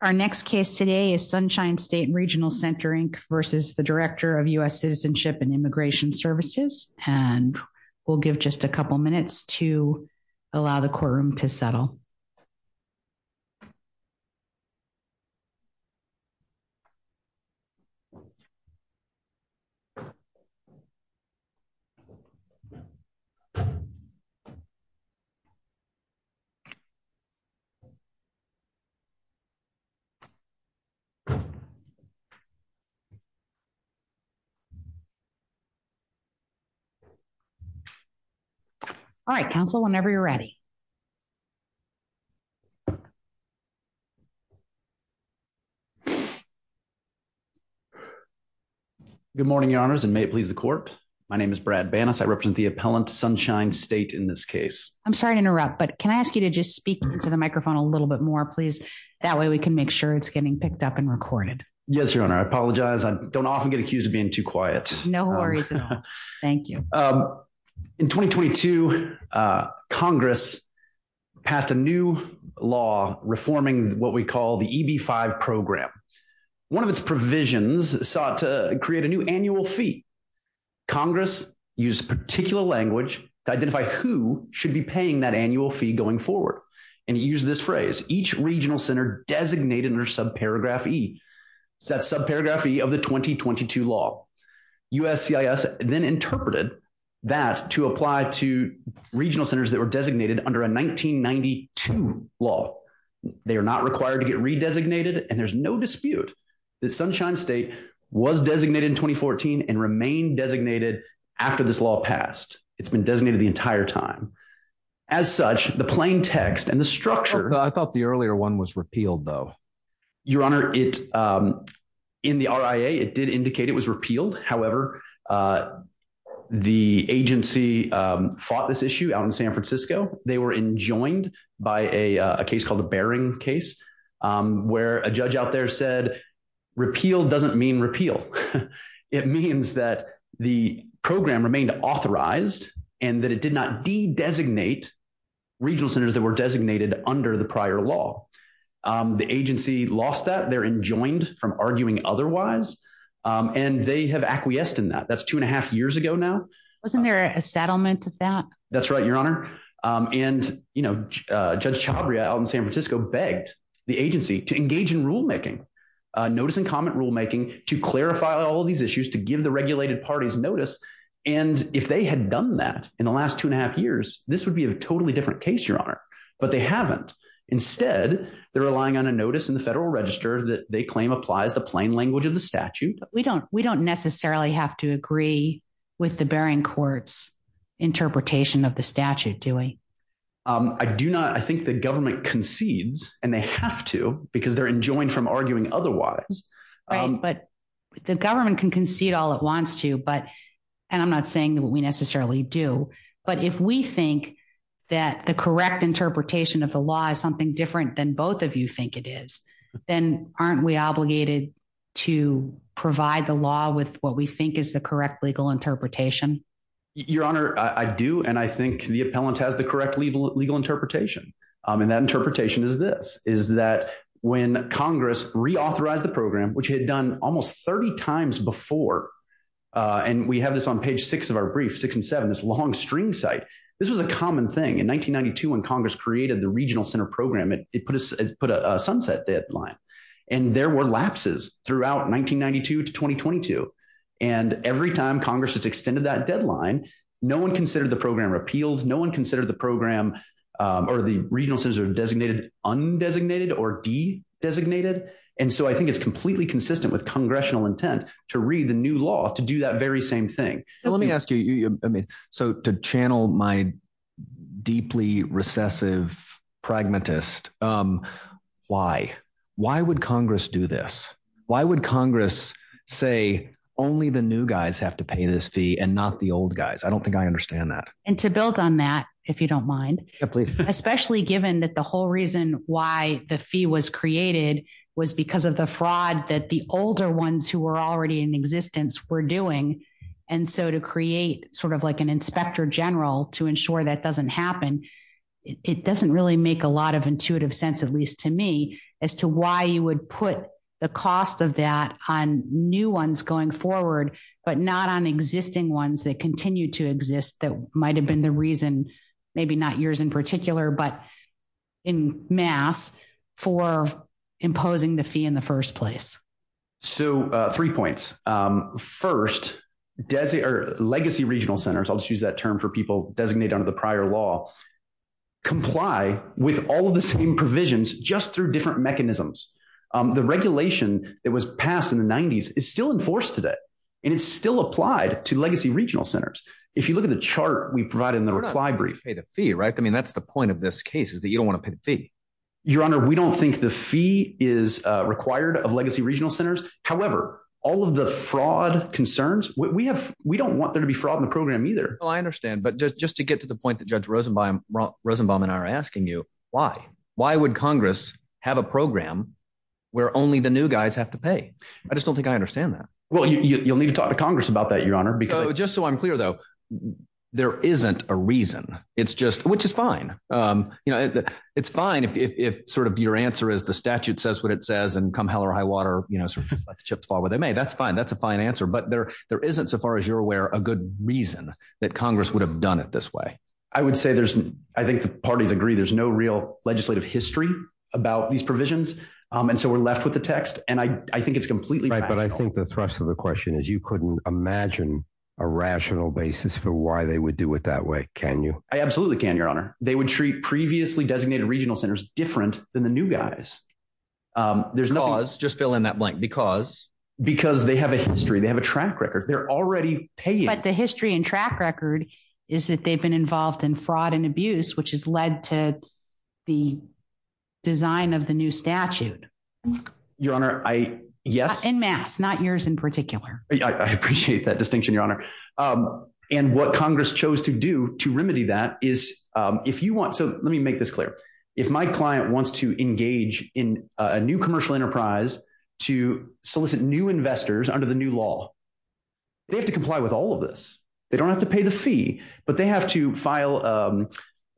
Our next case today is Sunshine State Regional Center, Inc. v. Director, US Citizenship and Immigration Services and we'll give just a couple of minutes to allow the courtroom to settle. All right, council whenever you're ready. Good morning, your honors and may it please the court. My name is Brad Bannas I represent the appellant sunshine state in this case, I'm sorry to interrupt but can I ask you to just speak to the microphone a little bit more please. That way we can make sure it's getting picked up and recorded. Yes, your honor I apologize I don't often get accused of being too quiet, no worries. Thank you. In 2022, Congress passed a new law reforming what we call the EB-5 program. One of its provisions sought to create a new annual fee. Congress used particular language to identify who should be paying that annual fee going forward and use this phrase each regional center designated under subparagraph E. That's subparagraph E of the 2022 law. USCIS then interpreted that to apply to regional centers that were designated under a 1992 law. They are not required to get re-designated and there's no dispute that Sunshine State was designated in 2014 and remain designated after this law passed. It's been designated the entire time. As such, the plain text and the structure. I thought the earlier one was repealed though. Your honor, in the RIA it did indicate it was repealed, however, the agency fought this issue out in San Francisco. They were enjoined by a case called the Baring case where a judge out there said repeal doesn't mean repeal. It means that the program remained authorized and that it did not de-designate regional centers that were designated under the prior law. The agency lost that. They're enjoined from arguing otherwise and they have acquiesced in that. That's two and a half years ago now. Wasn't there a settlement of that? That's right, your honor. And Judge Chabria out in San Francisco begged the agency to engage in rulemaking, notice and comment rulemaking to clarify all these issues, to give the regulated parties notice. And if they had done that in the last two and a half years, this would be a totally different case, your honor. But they haven't. Instead, they're relying on a notice in the federal register that they claim applies the plain language of the statute. We don't necessarily have to agree with the Baring court's interpretation of the statute, do we? I do not. I think the government concedes and they have to because they're enjoined from arguing otherwise. But the government can concede all it wants to, but I'm not saying that we necessarily do. But if we think that the correct interpretation of the law is something different than both of you think it is, then aren't we obligated to provide the law with what we think is the correct legal interpretation? Your honor, I do. And I think the appellant has the correct legal legal interpretation. And that interpretation is this, is that when Congress reauthorized the program, which had done almost 30 times before, and we have this on page six of our brief, six and seven, this long string site, this was a common thing in 1992, when Congress created the regional center program, it put a sunset deadline. And there were lapses throughout 1992 to 2022. And every time Congress has extended that deadline, no one considered the program repealed. No one considered the program or the regional centers are designated, undesignated or de-designated. And so I think it's completely consistent with congressional intent to read the new law to do that very same thing. Let me ask you, I mean, so to channel my deeply recessive pragmatist, why, why would Congress do this? Why would Congress say only the new guys have to pay this fee and not the old guys? I don't think I understand that. And to build on that, if you don't mind, especially given that the whole reason why the fee was created was because of the fraud that the older ones who were already in existence were doing. And so to create sort of like an inspector general to ensure that doesn't happen, it doesn't really make a lot of intuitive sense, at least to me, as to why you would put the cost of that on new ones going forward, but not on existing ones that continue to exist that might've been the reason, maybe not yours in particular, but in mass for imposing the fee in the first place. So three points. First, legacy regional centers, I'll just use that term for people designated under the prior law, comply with all of the same provisions just through different mechanisms. The regulation that was passed in the nineties is still enforced today and it's still applied to legacy regional centers. If you look at the chart we provided in the reply brief. We're not supposed to pay the fee, right? I mean, that's the point of this case is that you don't want to pay the fee. Your honor, we don't think the fee is required of legacy regional centers. However, all of the fraud concerns we have, we don't want there to be fraud in the program either. I understand. But just to get to the point that judge Rosenbaum and I are asking you, why? Why would Congress have a program where only the new guys have to pay? I just don't think I understand that. Well, you'll need to talk to Congress about that, your honor. Just so I'm clear though, there isn't a reason. It's just, which is fine. You know, it's fine if sort of your answer is the statute says what it says and come hell or high water, you know, like the chips fall where they may. That's fine. That's a fine answer. But there there isn't so far as you're aware, a good reason that Congress would have done it this way. I would say there's I think the parties agree there's no real legislative history about these provisions. And so we're left with the text. And I think it's completely right. But I think the thrust of the question is you couldn't imagine a rational basis for why they would do it that way. Can you? I absolutely can, your honor. They would treat previously designated regional centers different than the new guys. There's no just fill in that blank because because they have a history, they have a track record. They're already paying. But the history and track record is that they've been involved in fraud and abuse, which has led to the design of the new statute. Your honor. I yes. In mass, not yours in particular. I appreciate that distinction, your honor. And what Congress chose to do to remedy that is, if you want, so let me make this clear. If my client wants to engage in a new commercial enterprise to solicit new investors under the new law, they have to comply with all of this. They don't have to pay the fee, but they have to file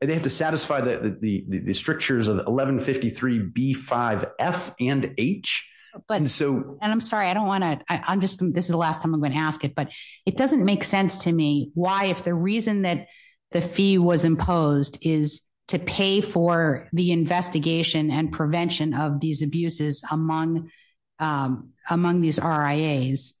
and they have to satisfy the strictures of 1153 B five F and H. But so and I'm sorry, I don't want to I'm just this is the last time I'm going to ask it, but it doesn't make sense to me why, if the reason that the fee was imposed is to pay for the investigation and prevention of these abuses among among these RIAs.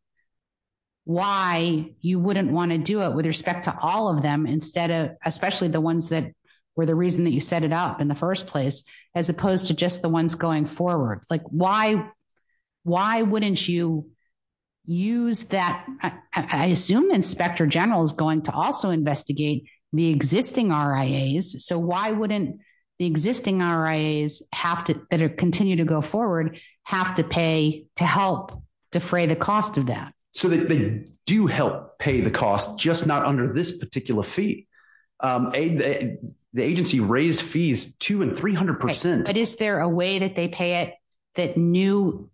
Why you wouldn't want to do it with respect to all of them instead of especially the ones that were the reason that you set it up in the first place, as opposed to just the ones going forward. Like, why, why wouldn't you use that? I assume Inspector General is going to also investigate the existing RIAs. So why wouldn't the existing RIAs have to continue to go forward, have to pay to help defray the cost of that? So they do help pay the cost, just not under this particular fee. The agency raised fees two and three hundred percent. But is there a way that they pay it, that new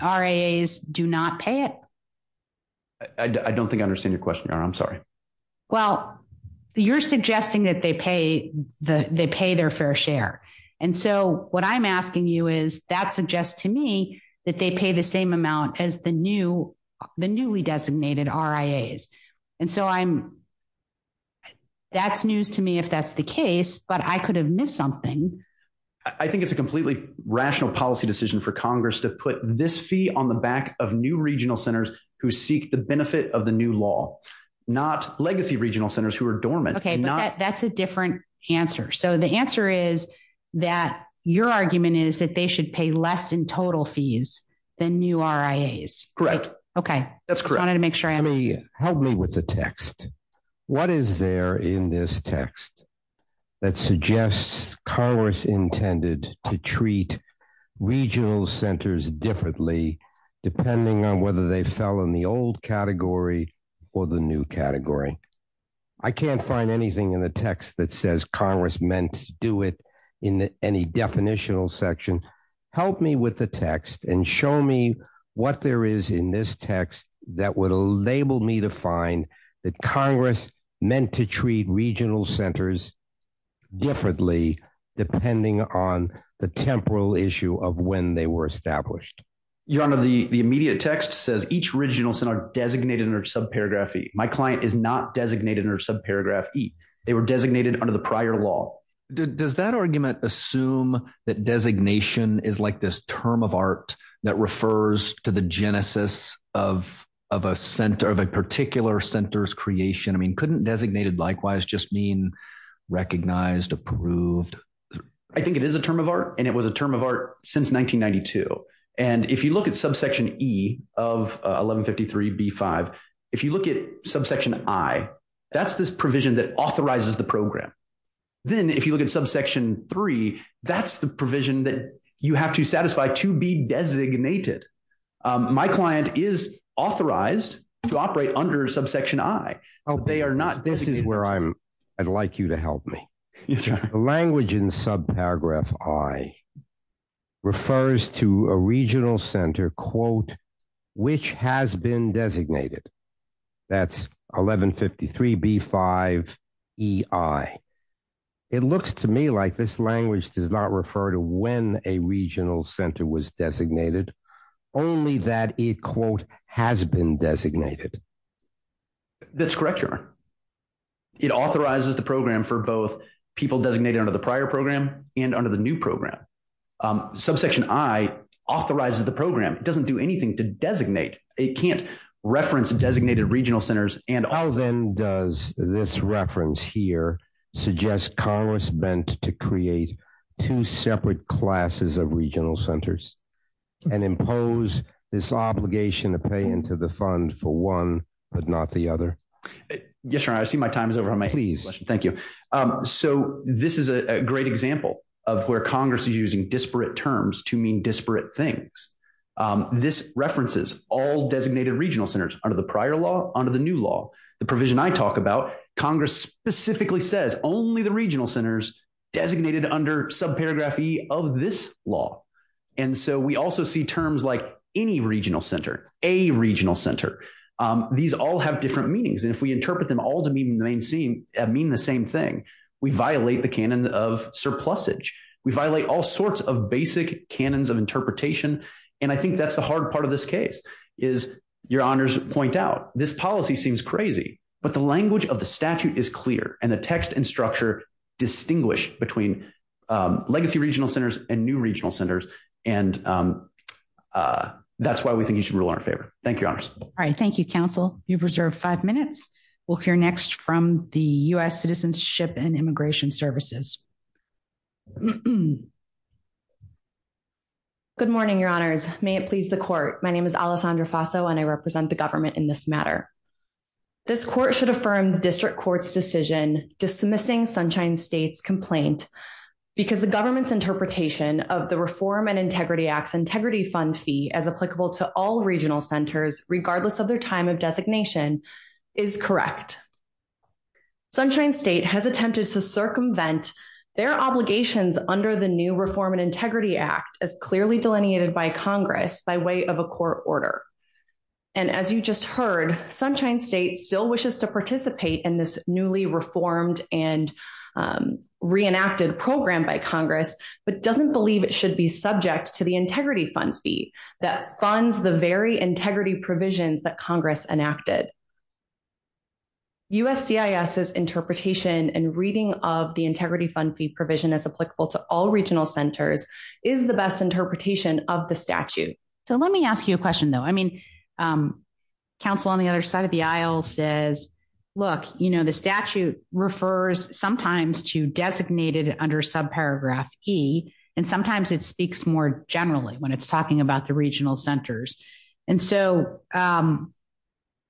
RIAs do not pay it? I don't think I understand your question, I'm sorry. Well, you're suggesting that they pay the they pay their fair share. And so what I'm asking you is that suggests to me that they pay the same amount as the new the newly designated RIAs. And so I'm that's news to me if that's the case, but I could have missed something. I think it's a completely rational policy decision for Congress to put this fee on the back of new regional centers who seek the benefit of the new law, not legacy regional centers who are dormant. OK, that's a different answer. So the answer is that your argument is that they should pay less in total fees than new RIAs. Correct. OK, that's correct. I wanted to make sure I help me with the text. What is there in this text that suggests Congress intended to treat regional centers differently depending on whether they fell in the old category or the new category? I can't find anything in the text that says Congress meant to do it in any definitional section. Help me with the text and show me what there is in this text that would enable me to find that Congress meant to treat regional centers differently depending on the temporal issue of when they were established. Your Honor, the immediate text says each regional center designated under subparagraph E. My client is not designated under subparagraph E. They were designated under the prior law. Does that argument assume that designation is like this term of art that refers to the genesis of a particular center's creation? I mean, couldn't designated likewise just mean recognized, approved? I think it is a term of art, and it was a term of art since 1992. And if you look at subsection E of 1153b5, if you look at subsection I, that's this provision that authorizes the program. Then if you look at subsection III, that's the provision that you have to satisfy to be designated. My client is authorized to operate under subsection I. This is where I'd like you to help me. The language in subparagraph I refers to a regional center, quote, which has been designated. That's 1153b5EI. It looks to me like this language does not refer to when a regional center was designated, only that it, quote, has been designated. That's correct, Your Honor. It authorizes the program for both people designated under the prior program and under the new program. Subsection I authorizes the program. It doesn't do anything to designate. It can't reference designated regional centers and all. How then does this reference here suggest Congress bent to create two separate classes of regional centers and impose this obligation to pay into the fund for one but not the other? Yes, Your Honor, I see my time is over on my hand. Thank you. So, this is a great example of where Congress is using disparate terms to mean disparate things. This references all designated regional centers under the prior law, under the new law. The provision I talk about, Congress specifically says only the regional centers designated under subparagraph E of this law. And so, we also see terms like any regional center, a regional center. These all have different meanings, and if we interpret them all to mean the same thing, we violate the canon of surplusage. We violate all sorts of basic canons of interpretation, and I think that's the hard part of this case is Your Honors point out, this policy seems crazy, but the language of the statute is clear and the text and structure distinguish between legacy regional centers and new regional centers, and that's why we think you should rule in our favor. Thank you, Your Honors. All right. Thank you, Counsel. You've reserved five minutes. We'll hear next from the U.S. Citizenship and Immigration Services. Good morning, Your Honors. May it please the court. My name is Alessandra Faso, and I represent the government in this matter. This court should affirm district court's decision dismissing Sunshine State's complaint because the government's interpretation of the Reform and Integrity Act's integrity fund fee as applicable to all regional centers, regardless of their time of designation, is correct. Sunshine State has attempted to circumvent their obligations under the new Reform and Integrity Act as clearly delineated by Congress by way of a court order. And as you just heard, Sunshine State still wishes to participate in this newly reformed and reenacted program by Congress, but doesn't believe it should be subject to the integrity fund fee that funds the very integrity provisions that Congress enacted. USCIS's interpretation and reading of the integrity fund fee provision as applicable to all regional centers is the best interpretation of the statute. So let me ask you a question, though. I mean, counsel on the other side of the aisle says, look, you know, the statute refers sometimes to designated under subparagraph E, and sometimes it speaks more generally when it's talking about the regional centers. And so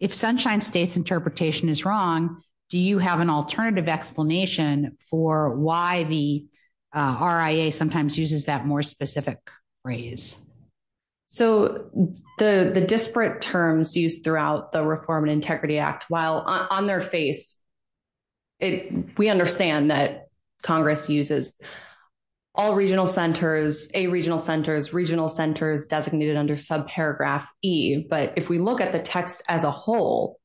if Sunshine State's interpretation is wrong, do you have an alternative explanation for why the RIA sometimes uses that more specific phrase? So the disparate terms used throughout the Reform and Integrity Act, while on their face, we understand that Congress uses all regional centers, A regional centers, regional centers designated under subparagraph E. But if we look at the text as a whole,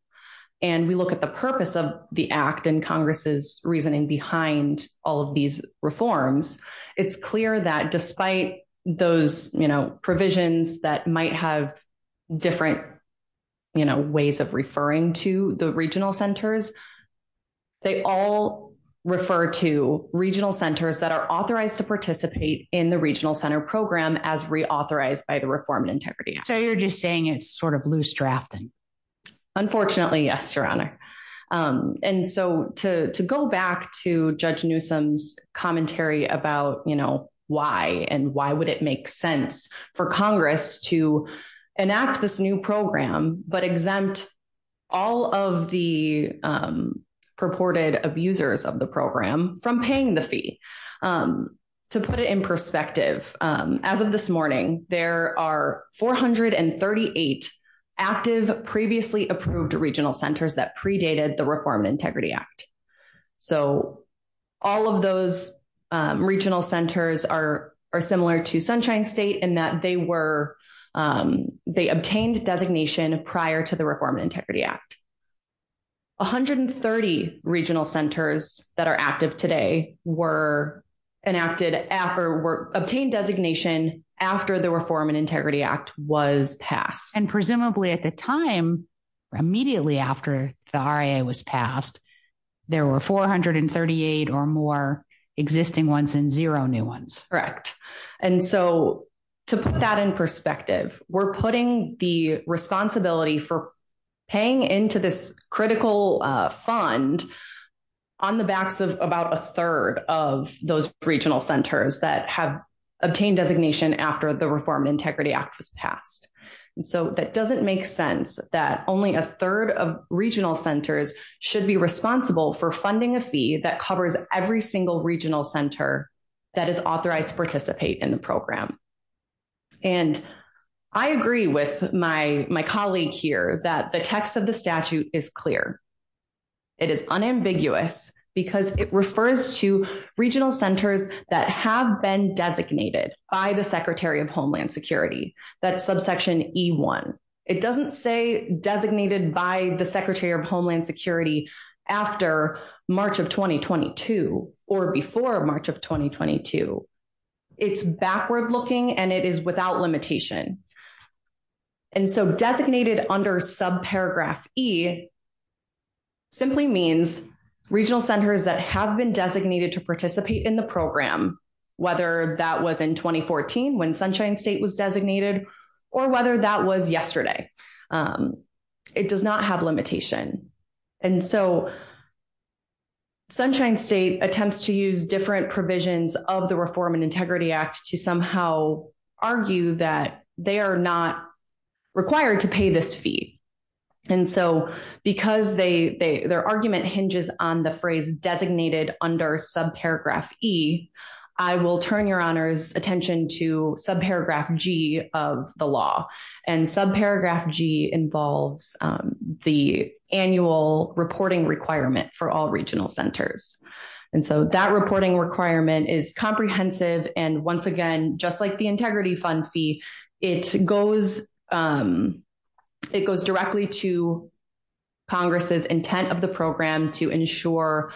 and we look at the purpose of the act and Congress's reasoning behind all of these reforms, it's clear that despite those, you know, provisions that might have different, you know, ways of referring to the regional centers, they all refer to regional centers that are authorized to participate in the regional center program as reauthorized by the Reform and Integrity Act. So you're just saying it's sort of loose drafting? Unfortunately, yes, Your Honor. And so to go back to Judge Newsom's commentary about, you know, why and why would it make sense for Congress to enact this new program, but exempt all of the purported abusers of the program from paying the fee? To put it in perspective, as of this morning, there are 438 active previously approved regional centers that predated the Reform and Integrity Act. So all of those regional centers are similar to Sunshine State in that they were, they obtained designation prior to the Reform and Integrity Act. 130 regional centers that are active today were enacted after, were obtained designation after the Reform and Integrity Act was passed. And presumably at the time, immediately after the RIA was passed, there were 438 or more existing ones and zero new ones. And so to put that in perspective, we're putting the responsibility for paying into this critical fund on the backs of about a third of those regional centers that have obtained designation after the Reform and Integrity Act was passed. And so that doesn't make sense that only a third of regional centers should be responsible for funding a fee that covers every single regional center that is authorized to participate in the program. And I agree with my colleague here that the text of the statute is clear. It is unambiguous because it refers to regional centers that have been designated by the Secretary of Homeland Security, that's subsection E1. It doesn't say designated by the Secretary of Homeland Security after March of 2022 or before March of 2022. It's backward looking and it is without limitation. And so designated under subparagraph E simply means regional centers that have been designated to participate in the program, whether that was in 2014 when Sunshine State was designated or whether that was yesterday. It does not have limitation. And so Sunshine State attempts to use different provisions of the Reform and Integrity Act to somehow argue that they are not required to pay this fee. And so because their argument hinges on the phrase designated under subparagraph E, I will turn your honors attention to subparagraph G of the law. And subparagraph G involves the annual reporting requirement for all regional centers. And so that reporting requirement is comprehensive. And once again, just like the integrity fund fee, it goes directly to Congress's intent of the program to ensure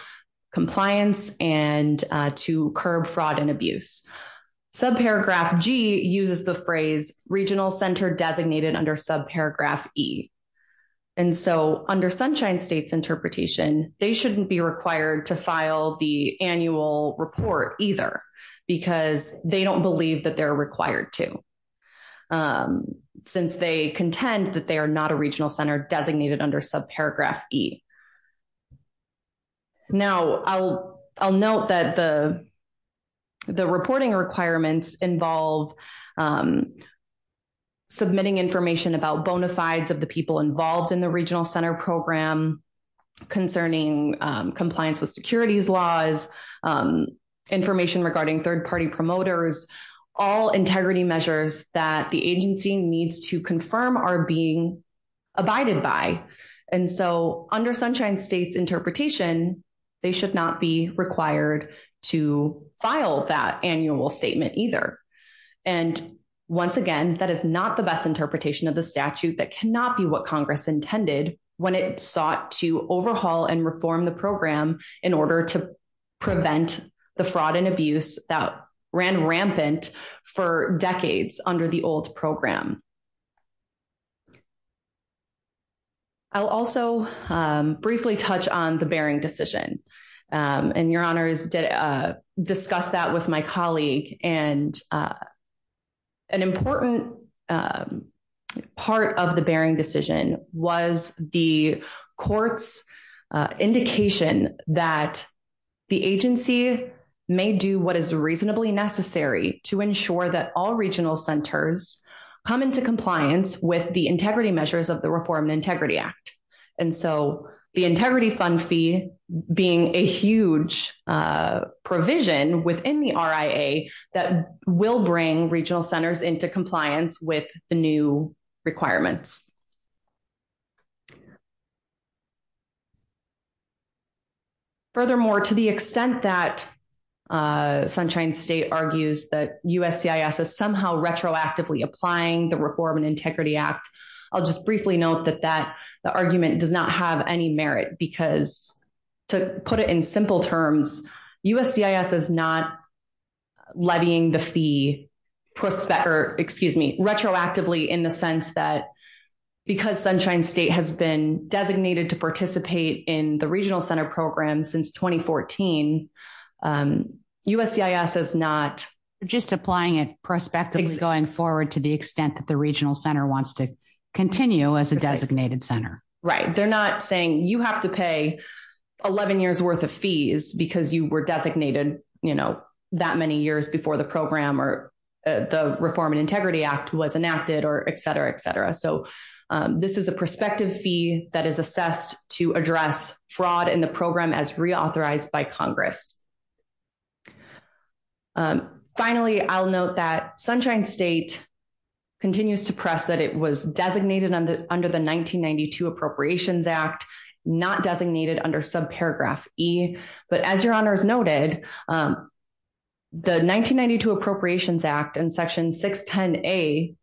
compliance and to curb fraud and abuse. Subparagraph G uses the phrase regional center designated under subparagraph E. And so under Sunshine State's interpretation, they shouldn't be required to file the annual report either because they don't believe that they're required to since they contend that they are not a regional center designated under subparagraph E. Now, I'll note that the reporting requirements involve submitting information about bona fides of the people involved in the regional center program concerning compliance with securities laws, information regarding third party promoters, all integrity measures that the agency needs to confirm are being abided by. And so under Sunshine State's interpretation, they should not be required to file that annual statement either. And once again, that is not the best interpretation of the statute. That cannot be what Congress intended when it sought to overhaul and reform the program in order to prevent the fraud and abuse that ran rampant for decades under the old program. I'll also briefly touch on the Bering decision, and your honors did discuss that with my colleague and. An important part of the Bering decision was the court's indication that the agency may do what is reasonably necessary to ensure that all regional centers come into compliance with the integrity measures of the Reform and Integrity Act. And so the integrity fund fee being a huge provision within the RIA that will bring regional centers into compliance with the new requirements. Furthermore, to the extent that Sunshine State argues that USCIS is somehow retroactively applying the Reform and Integrity Act, I'll just briefly note that the argument does not have any merit because, to put it in simple terms, USCIS is not levying the fee retroactively in the sense that because Sunshine State has been designated to participate in the regional center program since 2014, USCIS is not just applying it prospectively going forward to the extent that the regional center wants to continue as a designated center. Right. They're not saying you have to pay 11 years worth of fees because you were designated, you know, that many years before the program or the Reform and Integrity Act was enacted or etc. etc. So this is a prospective fee that is assessed to address fraud in the program as reauthorized by Congress. Finally, I'll note that Sunshine State continues to press that it was designated under the 1992 Appropriations Act, not designated under subparagraph E. But as your honors noted, the 1992 Appropriations Act and Section 610A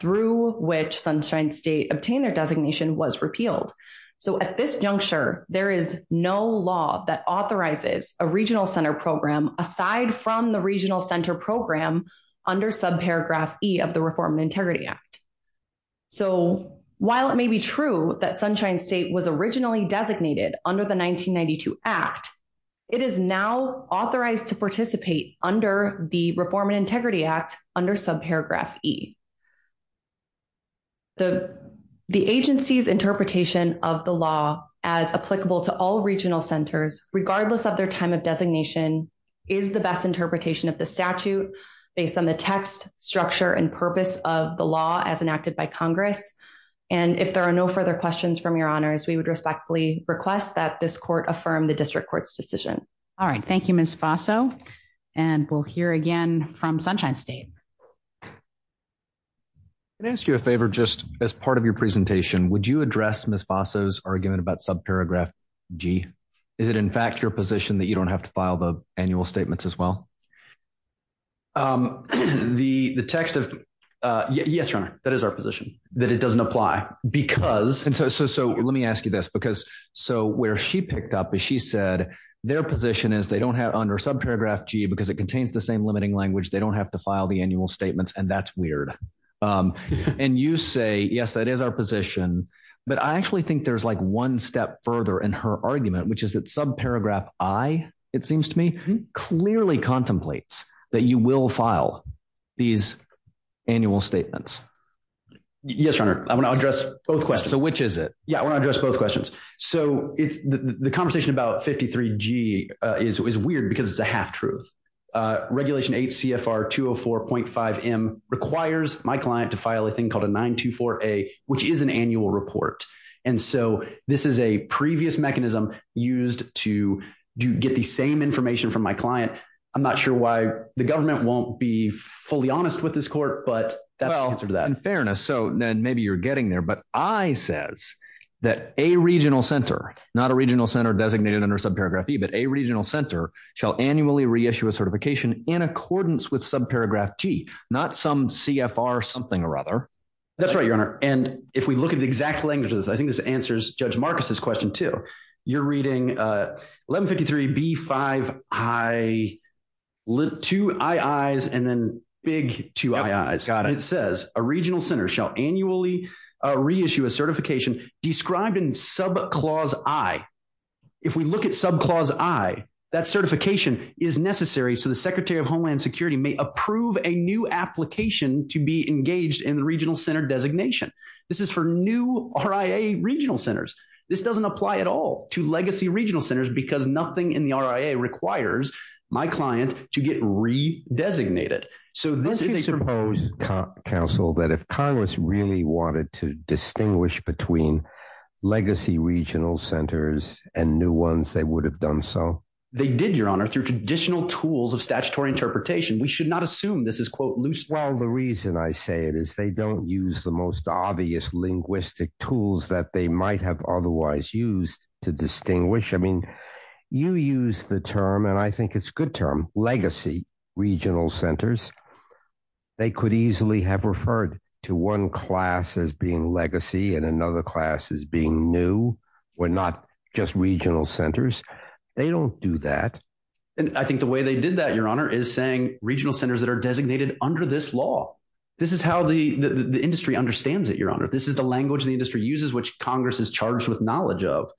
through which Sunshine State obtained their designation was repealed. So at this juncture, there is no law that authorizes a regional center program aside from the regional center program under subparagraph E of the Reform and Integrity Act. So while it may be true that Sunshine State was originally designated under the 1992 Act, it is now authorized to participate under the Reform and Integrity Act under subparagraph E. The agency's interpretation of the law as applicable to all regional centers, regardless of their time of designation, is the best interpretation of the statute based on the text, structure, and purpose of the law as enacted by Congress. And if there are no further questions from your honors, we would respectfully request that this court affirm the district court's decision. All right. Thank you, Ms. Faso. And we'll hear again from Sunshine State. Can I ask you a favor, just as part of your presentation, would you address Ms. Faso's argument about subparagraph G? Is it in fact your position that you don't have to file the annual statements as well? The text of, yes, your honor, that is our position, that it doesn't apply, because... And so let me ask you this, because so where she picked up is she said their position is they don't have under subparagraph G because it contains the same limiting language, they don't have to file the annual statements, and that's weird. And you say, yes, that is our position. But I actually think there's like one step further in her argument, which is that subparagraph I, it seems to me, clearly contemplates that you will file these annual statements. Yes, your honor, I want to address both questions. So which is it? Yeah, I want to address both questions. So the conversation about 53G is weird because it's a half truth. Regulation HCFR 204.5M requires my client to file a thing called a 924A, which is an annual report. And so this is a previous mechanism used to get the same information from my client. I'm not sure why the government won't be fully honest with this court, but that's the answer to that. Well, in fairness, so maybe you're getting there. But I says that a regional center, not a regional center designated under subparagraph E, but a regional center shall annually reissue a certification in accordance with subparagraph G, not some CFR something or other. That's right, your honor. And if we look at the exact language of this, I think this answers Judge Marcus's question, too. You're reading 1153B5II, two II's and then big two II's. Got it. It says a regional center shall annually reissue a certification described in subclause I. If we look at subclause I, that certification is necessary so the Secretary of Homeland Security may approve a new application to be engaged in regional center designation. This is for new RIA regional centers. This doesn't apply at all to legacy regional centers because nothing in the RIA requires my client to get re-designated. So this is a proposed counsel that if Congress really wanted to distinguish between legacy regional centers and new ones, they would have done so. They did, your honor, through traditional tools of statutory interpretation. We should not assume this is, quote, loose. Well, the reason I say it is they don't use the most obvious linguistic tools that they might have otherwise used to distinguish. I mean, you use the term, and I think it's a good term, legacy regional centers. They could easily have referred to one class as being legacy and another class as being new. We're not just regional centers. They don't do that. And I think the way they did that, your honor, is saying regional centers that are designated under this law. This is how the industry understands it, your honor. This is the language the industry uses, which Congress is charged with knowledge of.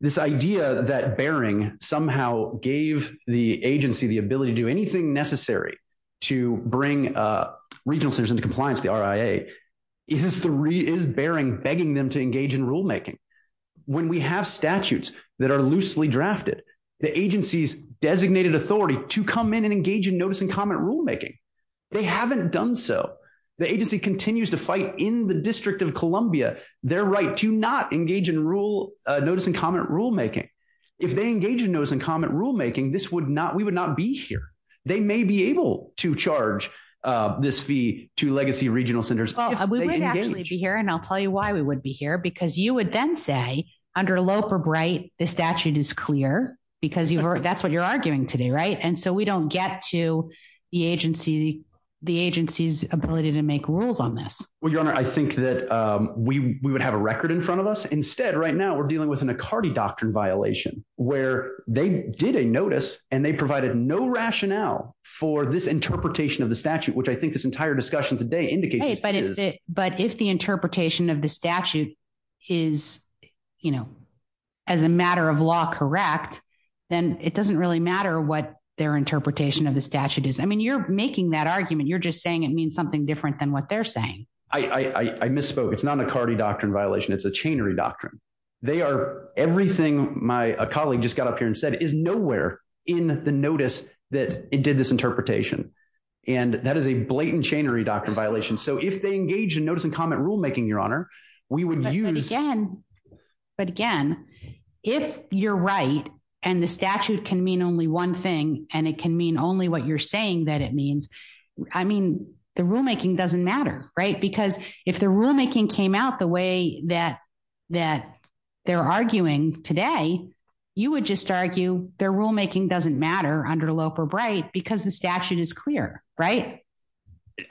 This idea that Bering somehow gave the agency the ability to do anything necessary to bring regional centers into compliance, the RIA, is Bering begging them to engage in rulemaking. When we have statutes that are loosely drafted, the agency's designated authority to come in and engage in notice and comment rulemaking. They haven't done so. The agency continues to fight in the District of Columbia their right to not engage in rule, notice and comment rulemaking. If they engage in notice and comment rulemaking, this would not, we would not be here. They may be able to charge this fee to legacy regional centers. We would actually be here. And I'll tell you why we would be here, because you would then say under Loeb or Bright, the statute is clear because that's what you're arguing today. Right. And so we don't get to the agency, the agency's ability to make rules on this. Well, your honor, I think that we would have a record in front of us. Instead, right now we're dealing with an Acardi doctrine violation where they did a notice and they provided no rationale for this interpretation of the statute, which I think this entire discussion today indicates. But if the interpretation of the statute is, you know, as a matter of law, correct, then it doesn't really matter what their interpretation of the statute is. I mean, you're making that argument. You're just saying it means something different than what they're saying. I misspoke. It's not an Acardi doctrine violation. It's a chainery doctrine. They are everything my colleague just got up here and said is nowhere in the notice that it did this interpretation. And that is a blatant chainery doctrine violation. So if they engage in notice and comment rulemaking, your honor, we would use again. But again, if you're right, and the statute can mean only one thing, and it can mean only what you're saying that it means. I mean, the rulemaking doesn't matter, right? Because if the rulemaking came out the way that that they're arguing today, you would just argue their rulemaking doesn't matter under Loeb or Bright because the statute is clear, right?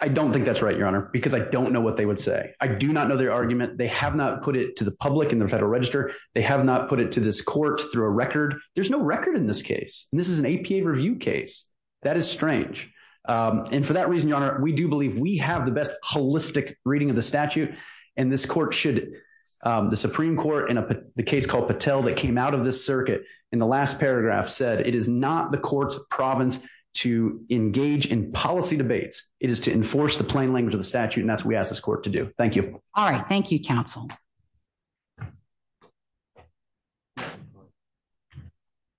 I don't think that's right, your honor, because I don't know what they would say. I do not know their argument. They have not put it to the public in the Federal Register. They have not put it to this court through a record. There's no record in this case. And this is an APA review case. That is strange. And for that reason, your honor, we do believe we have the best holistic reading of the statute. And this court should. The Supreme Court in the case called Patel that came out of this circuit in the last paragraph said it is not the court's province to engage in policy debates. It is to enforce the plain language of the statute. And that's what we ask this court to do. Thank you. All right. Thank you, counsel.